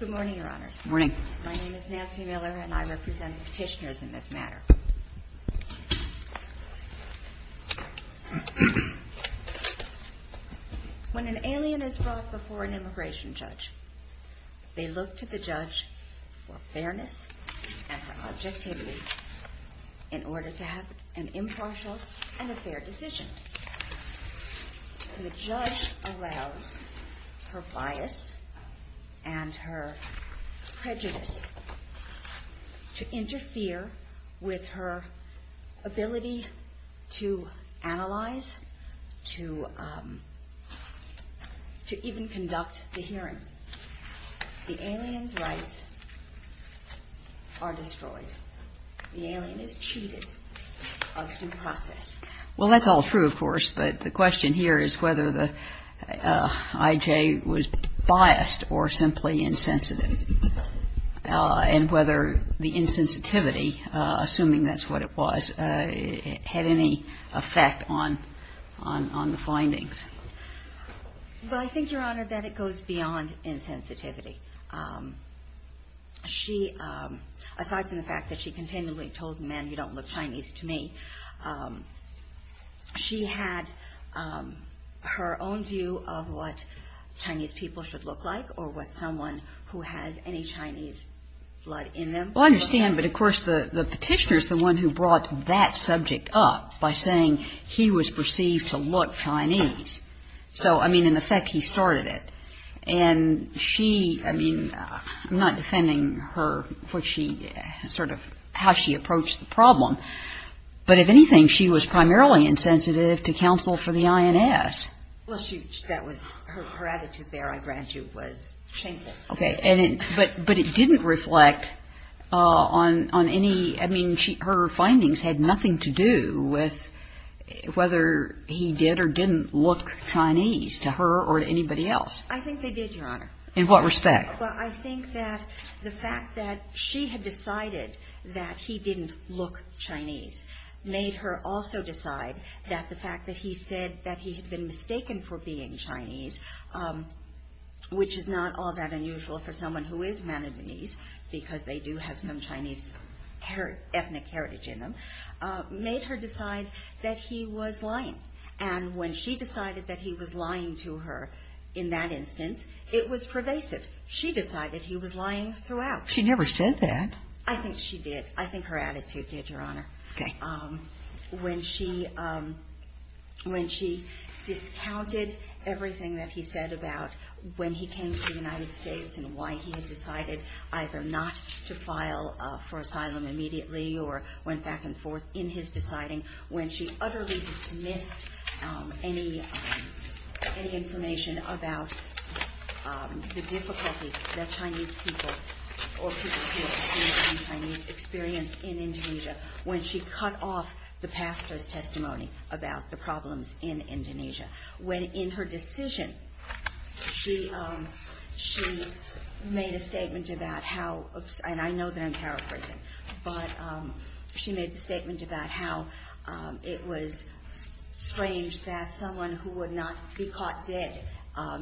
Good morning, Your Honors. My name is Nancy Miller and I represent the petitioners in this matter. When an alien is brought before an immigration judge, they look to the judge for fairness and objectivity in order to have an impartial and a fair decision. The judge allows her bias and her prejudice to interfere with her ability to analyze, to even conduct the hearing. The alien's rights are destroyed. The alien is cheated of due process. Well, that's all true, of course, but the question here is whether the I.J. was biased or simply insensitive, and whether the insensitivity, assuming that's what it was, had any effect on the findings. MILLER Well, I think, Your Honor, that it goes beyond insensitivity. She, aside from the fact that she continually told him, man, you don't look Chinese to me, she had her own view of what Chinese people should look like or what someone who has any Chinese blood in them should look like. But, of course, the petitioner is the one who brought that subject up by saying he was perceived to look Chinese. So, I mean, in effect, he started it. And she, I mean, I'm not defending her, what she, sort of how she approached the problem, but, if anything, she was primarily insensitive to counsel for the INS. GINSBURG Her attitude there, I grant you, was shameful. But it didn't reflect on any, I mean, her findings had nothing to do with whether he did or didn't look Chinese to her or to anybody else. MILLER I think they did, Your Honor. GINSBURG In what respect? MILLER Well, I think that the fact that she had decided that he didn't look Chinese made her also decide that the fact that he said that he had been mistaken for being Chinese, which is not all that unusual for someone who is Manadanese because they do have some Chinese ethnic heritage in them, made her decide that he was lying. And when she decided that he was lying to her in that instance, it was pervasive. She decided he was lying throughout. GINSBURG She never said that. MILLER I think she did. GINSBURG Okay. that he said about when he came to the United States and why he had decided either not to file for asylum immediately or went back and forth in his deciding, when she utterly dismissed any information about the difficulties that Chinese people or people who have received Chinese experience in Indonesia, when she cut off the pastor's testimony about the problems in Indonesia. When in her decision, she made a statement about how, and I know that I'm paraphrasing, but she made the statement about how it was strange that someone who would not be caught dead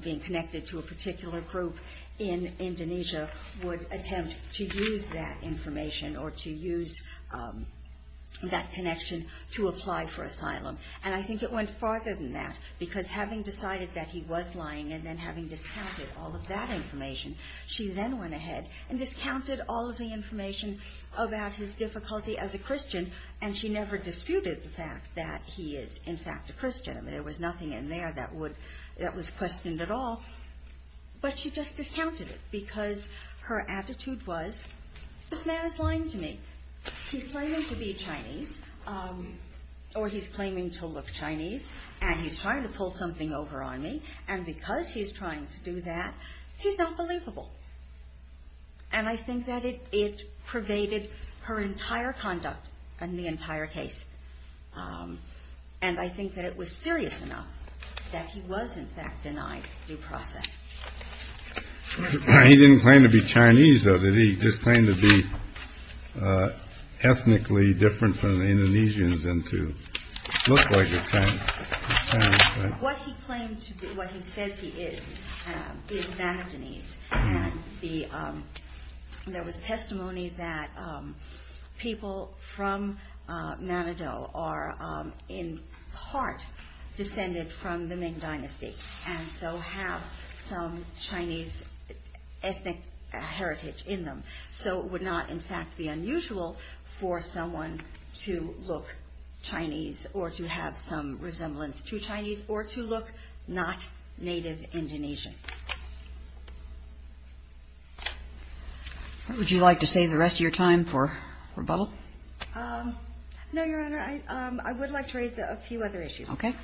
being connected to a particular group in Indonesia would attempt to use that information or to use that connection to apply for asylum. And I think it went farther than that, because having decided that he was lying and then having discounted all of that information, she then went ahead and discounted all of the information about his difficulty as a Christian, and she never disputed the fact that he is, in fact, a Christian. There was nothing in there that was questioned at all. But she just discounted it because her attitude was, This man is lying to me. He's claiming to be Chinese, or he's claiming to look Chinese, and he's trying to pull something over on me, and because he's trying to do that, he's not believable. And I think that it pervaded her entire conduct and the entire case. And I think that it was serious enough that he was, in fact, denied due process. He didn't claim to be Chinese, though, did he? He just claimed to be ethnically different from the Indonesians and to look like a Chinese. What he claimed to be, what he said he is, is Manedanese, and there was testimony that people from Manado are in part descended from the Ming Dynasty, and so have some Chinese ethnic heritage in them. So it would not, in fact, be unusual for someone to look Chinese or to have some resemblance to Chinese or to look not native Indonesian. Would you like to save the rest of your time for rebuttal? No, Your Honor. I would like to raise a few other issues. Okay.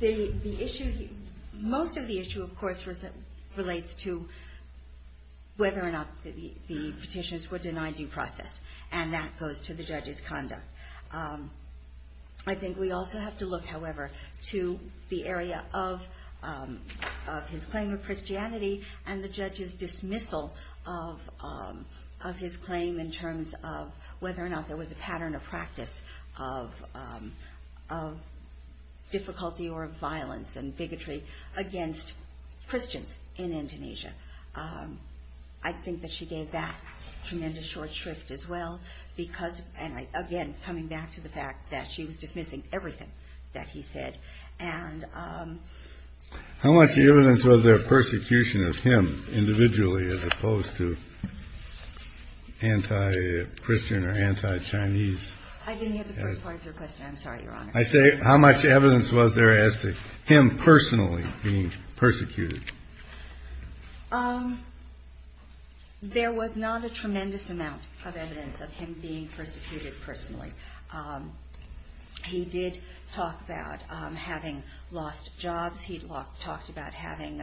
The issue, most of the issue, of course, relates to whether or not the petitions were denied due process, and that goes to the judge's conduct. I think we also have to look, however, to the area of his claim of Christianity and the judge's dismissal of his claim in terms of whether or not there was a pattern of practice of difficulty or of violence and bigotry against Christians in Indonesia. I think that she gave that tremendous short shrift as well because, and again coming back to the fact that she was dismissing everything that he said. How much evidence was there of persecution of him individually as opposed to anti-Christian or anti-Chinese? I didn't hear the first part of your question. I'm sorry, Your Honor. I say how much evidence was there as to him personally being persecuted? There was not a tremendous amount of evidence of him being persecuted personally. He did talk about having lost jobs. He talked about having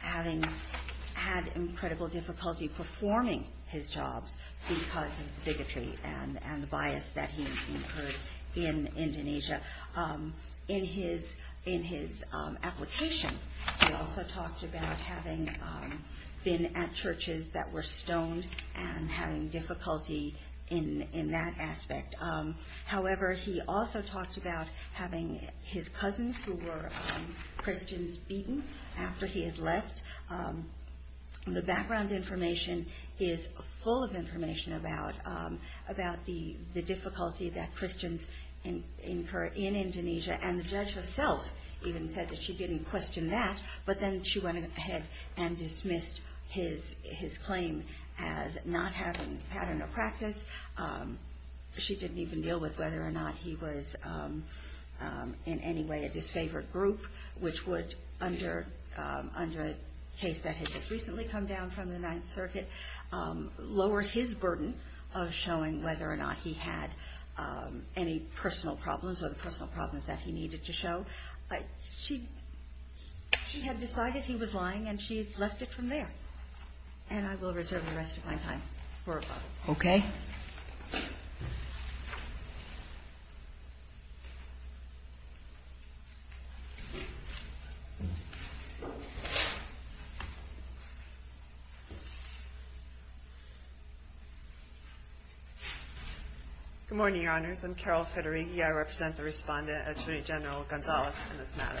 had incredible difficulty performing his jobs because of bigotry and the bias that he incurred in Indonesia. In his application, he also talked about having been at churches that were stoned and having difficulty in that aspect. However, he also talked about having his cousins who were Christians beaten after he had left. The background information is full of information about the difficulty that Christians incur in Indonesia. And the judge herself even said that she didn't question that, but then she went ahead and dismissed his claim as not having a pattern of practice. She didn't even deal with whether or not he was in any way a disfavored group, which would, under a case that had just recently come down from the Ninth Circuit, lower his burden of showing whether or not he had any personal problems or the personal problems that he needed to show. She had decided he was lying, and she had left it from there. And I will reserve the rest of my time for a vote. Okay. Good morning, Your Honors. I'm Carol Federighi. I represent the Respondent, Attorney General Gonzalez, in this matter.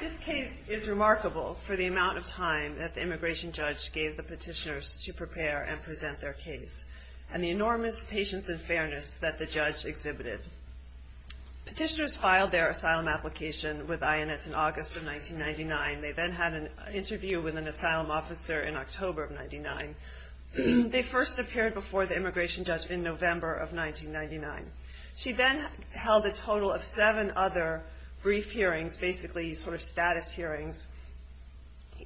This case is remarkable for the amount of time that the immigration judge gave the petitioners to prepare and present their case and the enormous patience and fairness that the judge exhibited. Petitioners filed their asylum application with INS in August of 1999. They then had an interview with an asylum officer in October of 1999. They first appeared before the immigration judge in November of 1999. She then held a total of seven other brief hearings, basically sort of status hearings,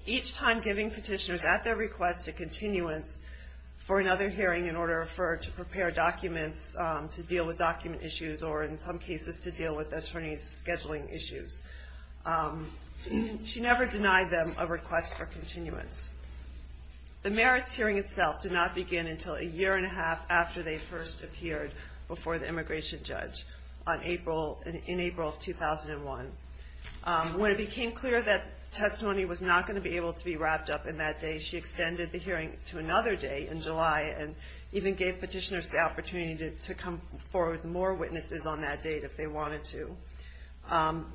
each time giving petitioners at their request a continuance for another hearing in order for her to prepare documents to deal with document issues or, in some cases, to deal with attorney's scheduling issues. She never denied them a request for continuance. The merits hearing itself did not begin until a year and a half after they first appeared before the immigration judge in April of 2001. When it became clear that testimony was not going to be able to be wrapped up in that day, she extended the hearing to another day in July and even gave petitioners the opportunity to come forward with more witnesses on that date if they wanted to.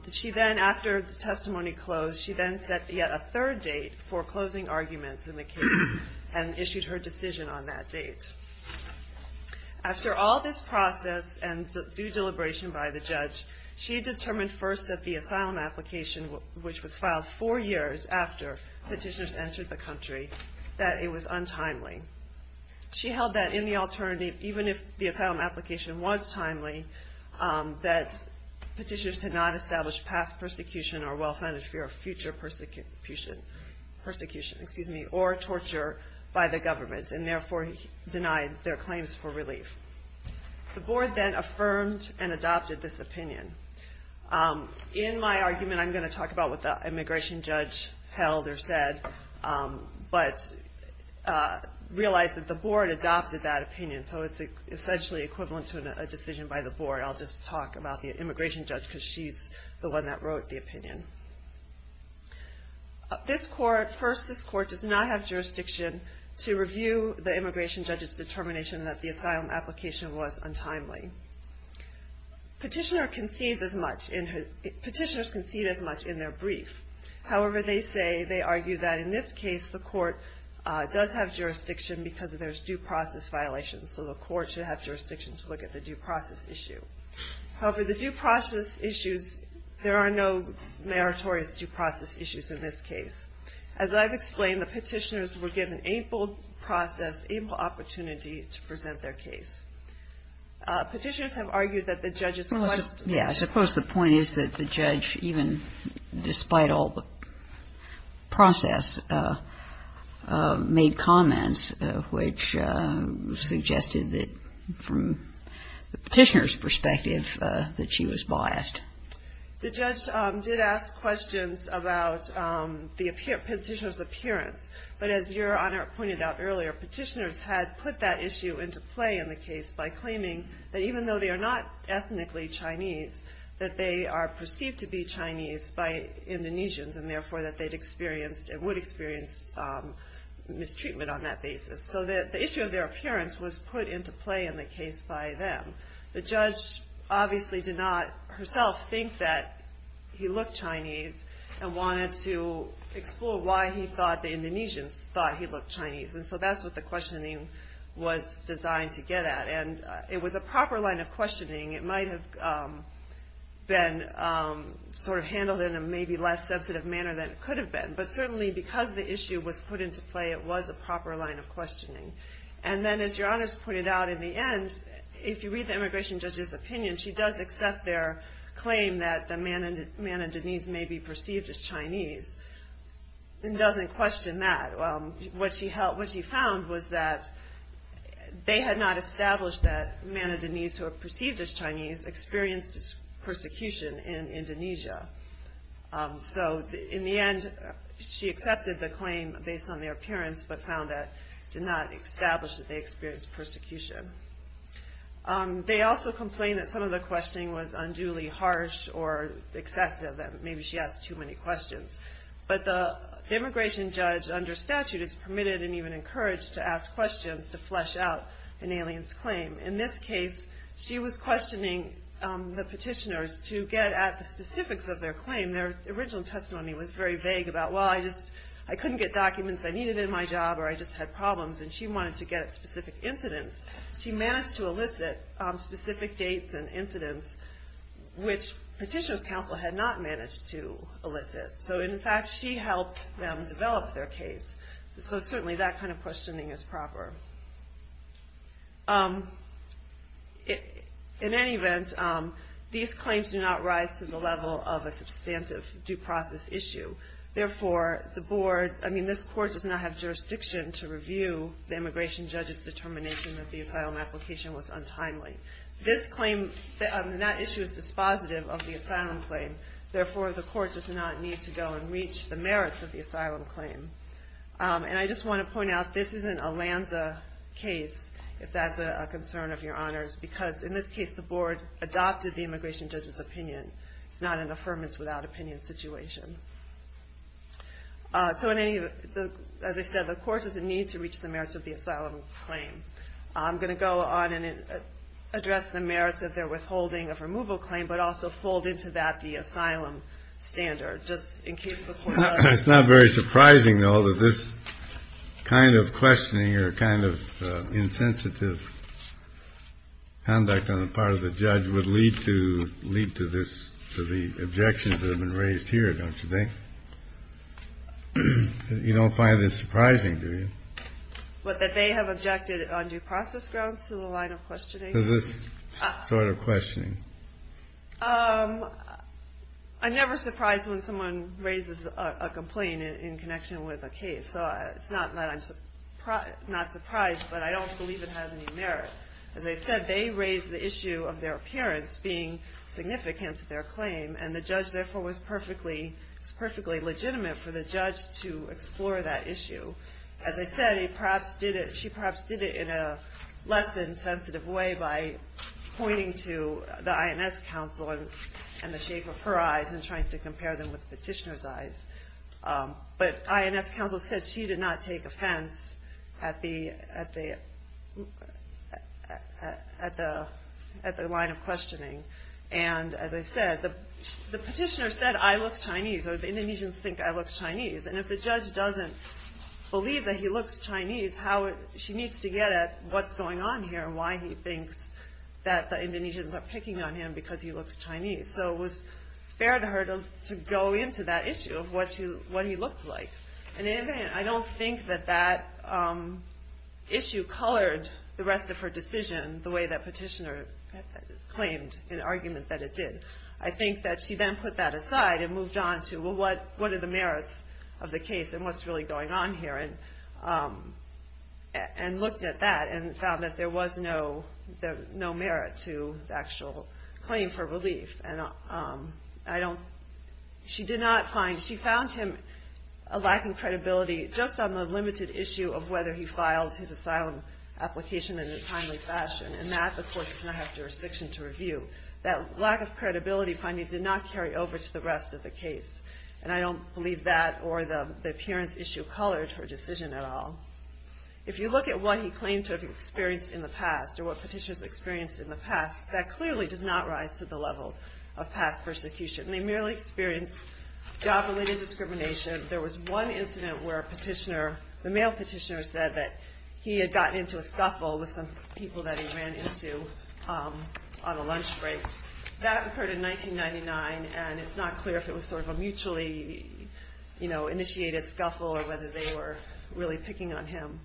She then, after the testimony closed, she then set yet a third date for closing arguments in the case and issued her decision on that date. After all this process and due deliberation by the judge, she determined first that the asylum application, which was filed four years after petitioners entered the country, that it was untimely. She held that in the alternative, even if the asylum application was timely, that petitioners had not established past persecution or well-founded fear of future persecution or torture by the government and therefore denied their claims for relief. The board then affirmed and adopted this opinion. In my argument, I'm going to talk about what the immigration judge held or said, but realized that the board adopted that opinion, so it's essentially equivalent to a decision by the board. I'll just talk about the immigration judge because she's the one that wrote the opinion. First, this court does not have jurisdiction to review the immigration judge's determination that the asylum application was untimely. Petitioners concede as much in their brief. However, they say, they argue that in this case, the court does have jurisdiction because there's due process violations, so the court should have jurisdiction to look at the due process issue. However, the due process issues, there are no meritorious due process issues in this case. As I've explained, the petitioners were given ample process, ample opportunity to present their case. Petitioners have argued that the judges must do this. The judge, even despite all the process, made comments which suggested that from the petitioner's perspective that she was biased. The judge did ask questions about the petitioner's appearance, but as Your Honor pointed out earlier, petitioners had put that issue into play in the case by claiming that even though they are not ethnically Chinese, that they are perceived to be Chinese by Indonesians, and therefore that they would experience mistreatment on that basis. So the issue of their appearance was put into play in the case by them. The judge obviously did not herself think that he looked Chinese, and wanted to explore why he thought the Indonesians thought he looked Chinese. And so that's what the questioning was designed to get at. It was handled in a maybe less sensitive manner than it could have been, but certainly because the issue was put into play, it was a proper line of questioning. And then as Your Honor's pointed out in the end, if you read the immigration judge's opinion, she does accept their claim that the Manadanese may be perceived as Chinese, and doesn't question that. What she found was that they had not established that Manadanese who are perceived as Chinese experienced mistreatment on that basis. And that they experienced persecution in Indonesia. So in the end, she accepted the claim based on their appearance, but found that it did not establish that they experienced persecution. They also complained that some of the questioning was unduly harsh or excessive, that maybe she asked too many questions. But the immigration judge under statute is permitted and even encouraged to ask questions to flesh out an alien's claim. In this case, she was questioning the petitioners to get at the specifics of their claim. Their original testimony was very vague about, well, I couldn't get documents I needed in my job, or I just had problems. And she wanted to get at specific incidents. She managed to elicit specific dates and incidents which petitioner's counsel had not managed to elicit. So in fact, she helped them develop their case. So certainly that kind of questioning is proper. In any event, these claims do not rise to the level of a substantive due process issue. Therefore, this court does not have jurisdiction to review the immigration judge's determination that the asylum application was untimely. This claim, that issue is dispositive of the asylum claim. Therefore, the court does not need to go and reach the merits of the asylum claim. And I just want to point out, this isn't a Lanza case, if that's a concern of your honors. Because in this case, the board adopted the immigration judge's opinion. It's not an affirmance without opinion situation. As I said, the court doesn't need to reach the merits of the asylum claim. I'm going to go on and address the merits of their withholding of removal claim, but also fold into that the asylum standard. It's not very surprising, though, that this kind of questioning or kind of insensitive conduct on the part of the judge would lead to this, to the objections that have been raised here, don't you think? You don't find this surprising, do you? But that they have objected on due process grounds to the line of questioning? To this sort of questioning. I'm never surprised when someone raises a complaint in connection with a case. So it's not that I'm not surprised, but I don't believe it has any merit. As I said, they raised the issue of their appearance being significant to their claim. And the judge, therefore, was perfectly legitimate for the judge to explore that issue. As I said, she perhaps did it in a less than sensitive way by pointing to the INS counsel and the shape of her eyes and trying to compare them with the petitioner's eyes. But INS counsel said she did not take offense at the line of questioning. And as I said, the petitioner said, I look Chinese, or the Indonesians think I look Chinese. And if the judge doesn't believe that he looks Chinese, she needs to get at what's going on here and why he thinks that the Indonesians are picking on him because he looks Chinese. So it was fair to her to go into that issue of what he looked like. I don't think that that issue colored the rest of her decision the way that petitioner claimed in the argument that it did. I think that she then put that aside and moved on to, well, what are the merits of the case and what's really going on here, and looked at that and found that there was no merit to the actual claim for relief. She found him lacking credibility just on the limited issue of whether he filed his asylum application in a timely fashion, and that the court does not have jurisdiction to review. That lack of credibility, finally, did not carry over to the rest of the case. And I don't believe that or the appearance issue colored her decision at all. If you look at what he claimed to have experienced in the past, or what petitioners experienced in the past, that clearly does not rise to the level of past persecution. They merely experienced job-related discrimination. There was one incident where the male petitioner said that he had gotten into a scuffle with some people that he ran into on a lunch break. That occurred in 1999, and it's not clear if it was sort of a mutually initiated scuffle or whether they were really picking on him.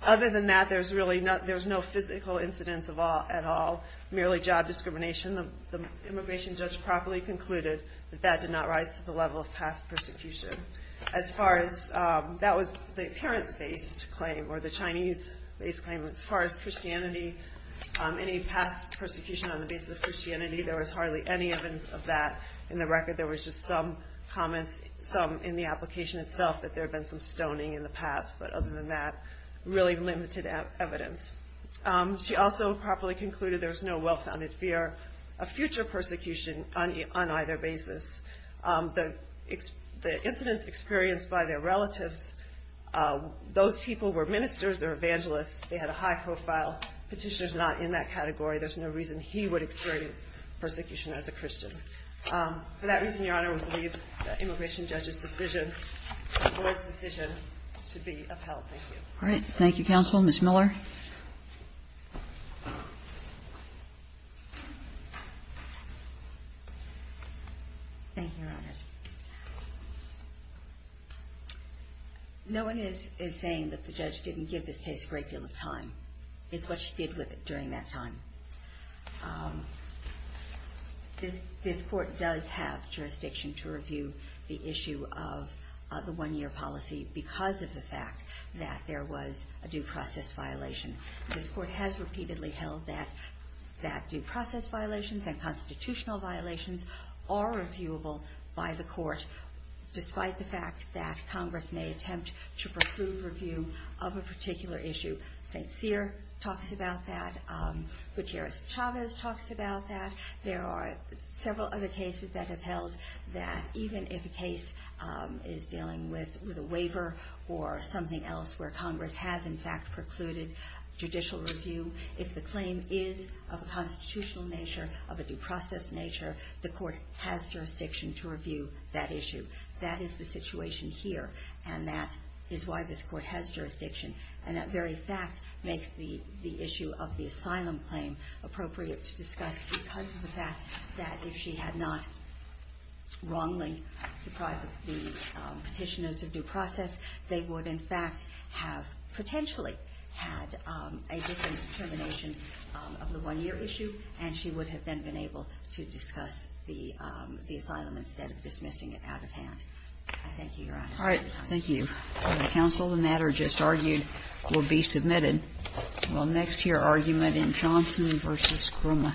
Other than that, there's no physical incidents at all, merely job discrimination. The immigration judge properly concluded that that did not rise to the level of past persecution. That was the parents-based claim, or the Chinese-based claim. As far as Christianity, any past persecution on the basis of Christianity, there was hardly any evidence of that. In the record, there was just some comments, some in the application itself, that there had been some stoning in the past. But other than that, really limited evidence. She also properly concluded there was no well-founded fear of future persecution on either basis. The incidents experienced by their relatives, those people were ministers or evangelists. They had a high profile. Petitioner's not in that category. There's no reason he would experience persecution as a Christian. For that reason, Your Honor, we believe the immigration judge's decision was a decision to be upheld. Thank you. All right. Thank you, counsel. Ms. Miller? Thank you, Your Honor. No one is saying that the judge didn't give this case a great deal of time. It's what she did with it during that time. This court does have jurisdiction to review the issue of the one-year policy because of the fact that there was a due process violation. This court has repeatedly held that due process violations and constitutional violations are reviewable by the court, despite the fact that Congress may attempt to preclude review of a particular issue. St. Cyr talks about that. Gutierrez-Chavez talks about that. There are several other cases that have held that even if a case is dealing with a waiver or something else where Congress has, in fact, precluded judicial review, if the claim is of a constitutional nature, of a due process nature, the court has jurisdiction to review that issue. That is the situation here, and that is why this court has jurisdiction. And that very fact makes the issue of the asylum claim appropriate to discuss because of the fact that if she had not wrongly deprived the Petitioners of due process, they would, in fact, have potentially had a different determination of the one-year issue, and she would have then been able to discuss the asylum instead of dismissing it out of hand. I thank you, Your Honor. Thank you. Counsel, the matter just argued will be submitted. We'll next hear argument in Johnson v. Krumme.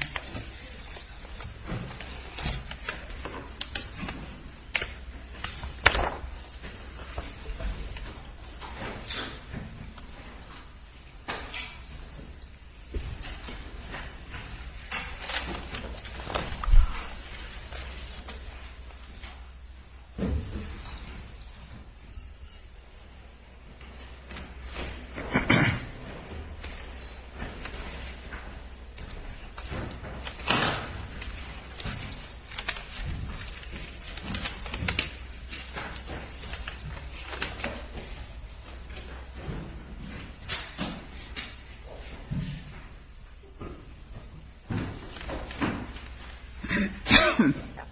Thank you.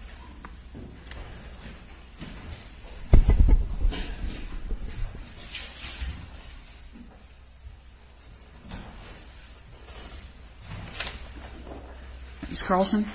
Ms. Carlson?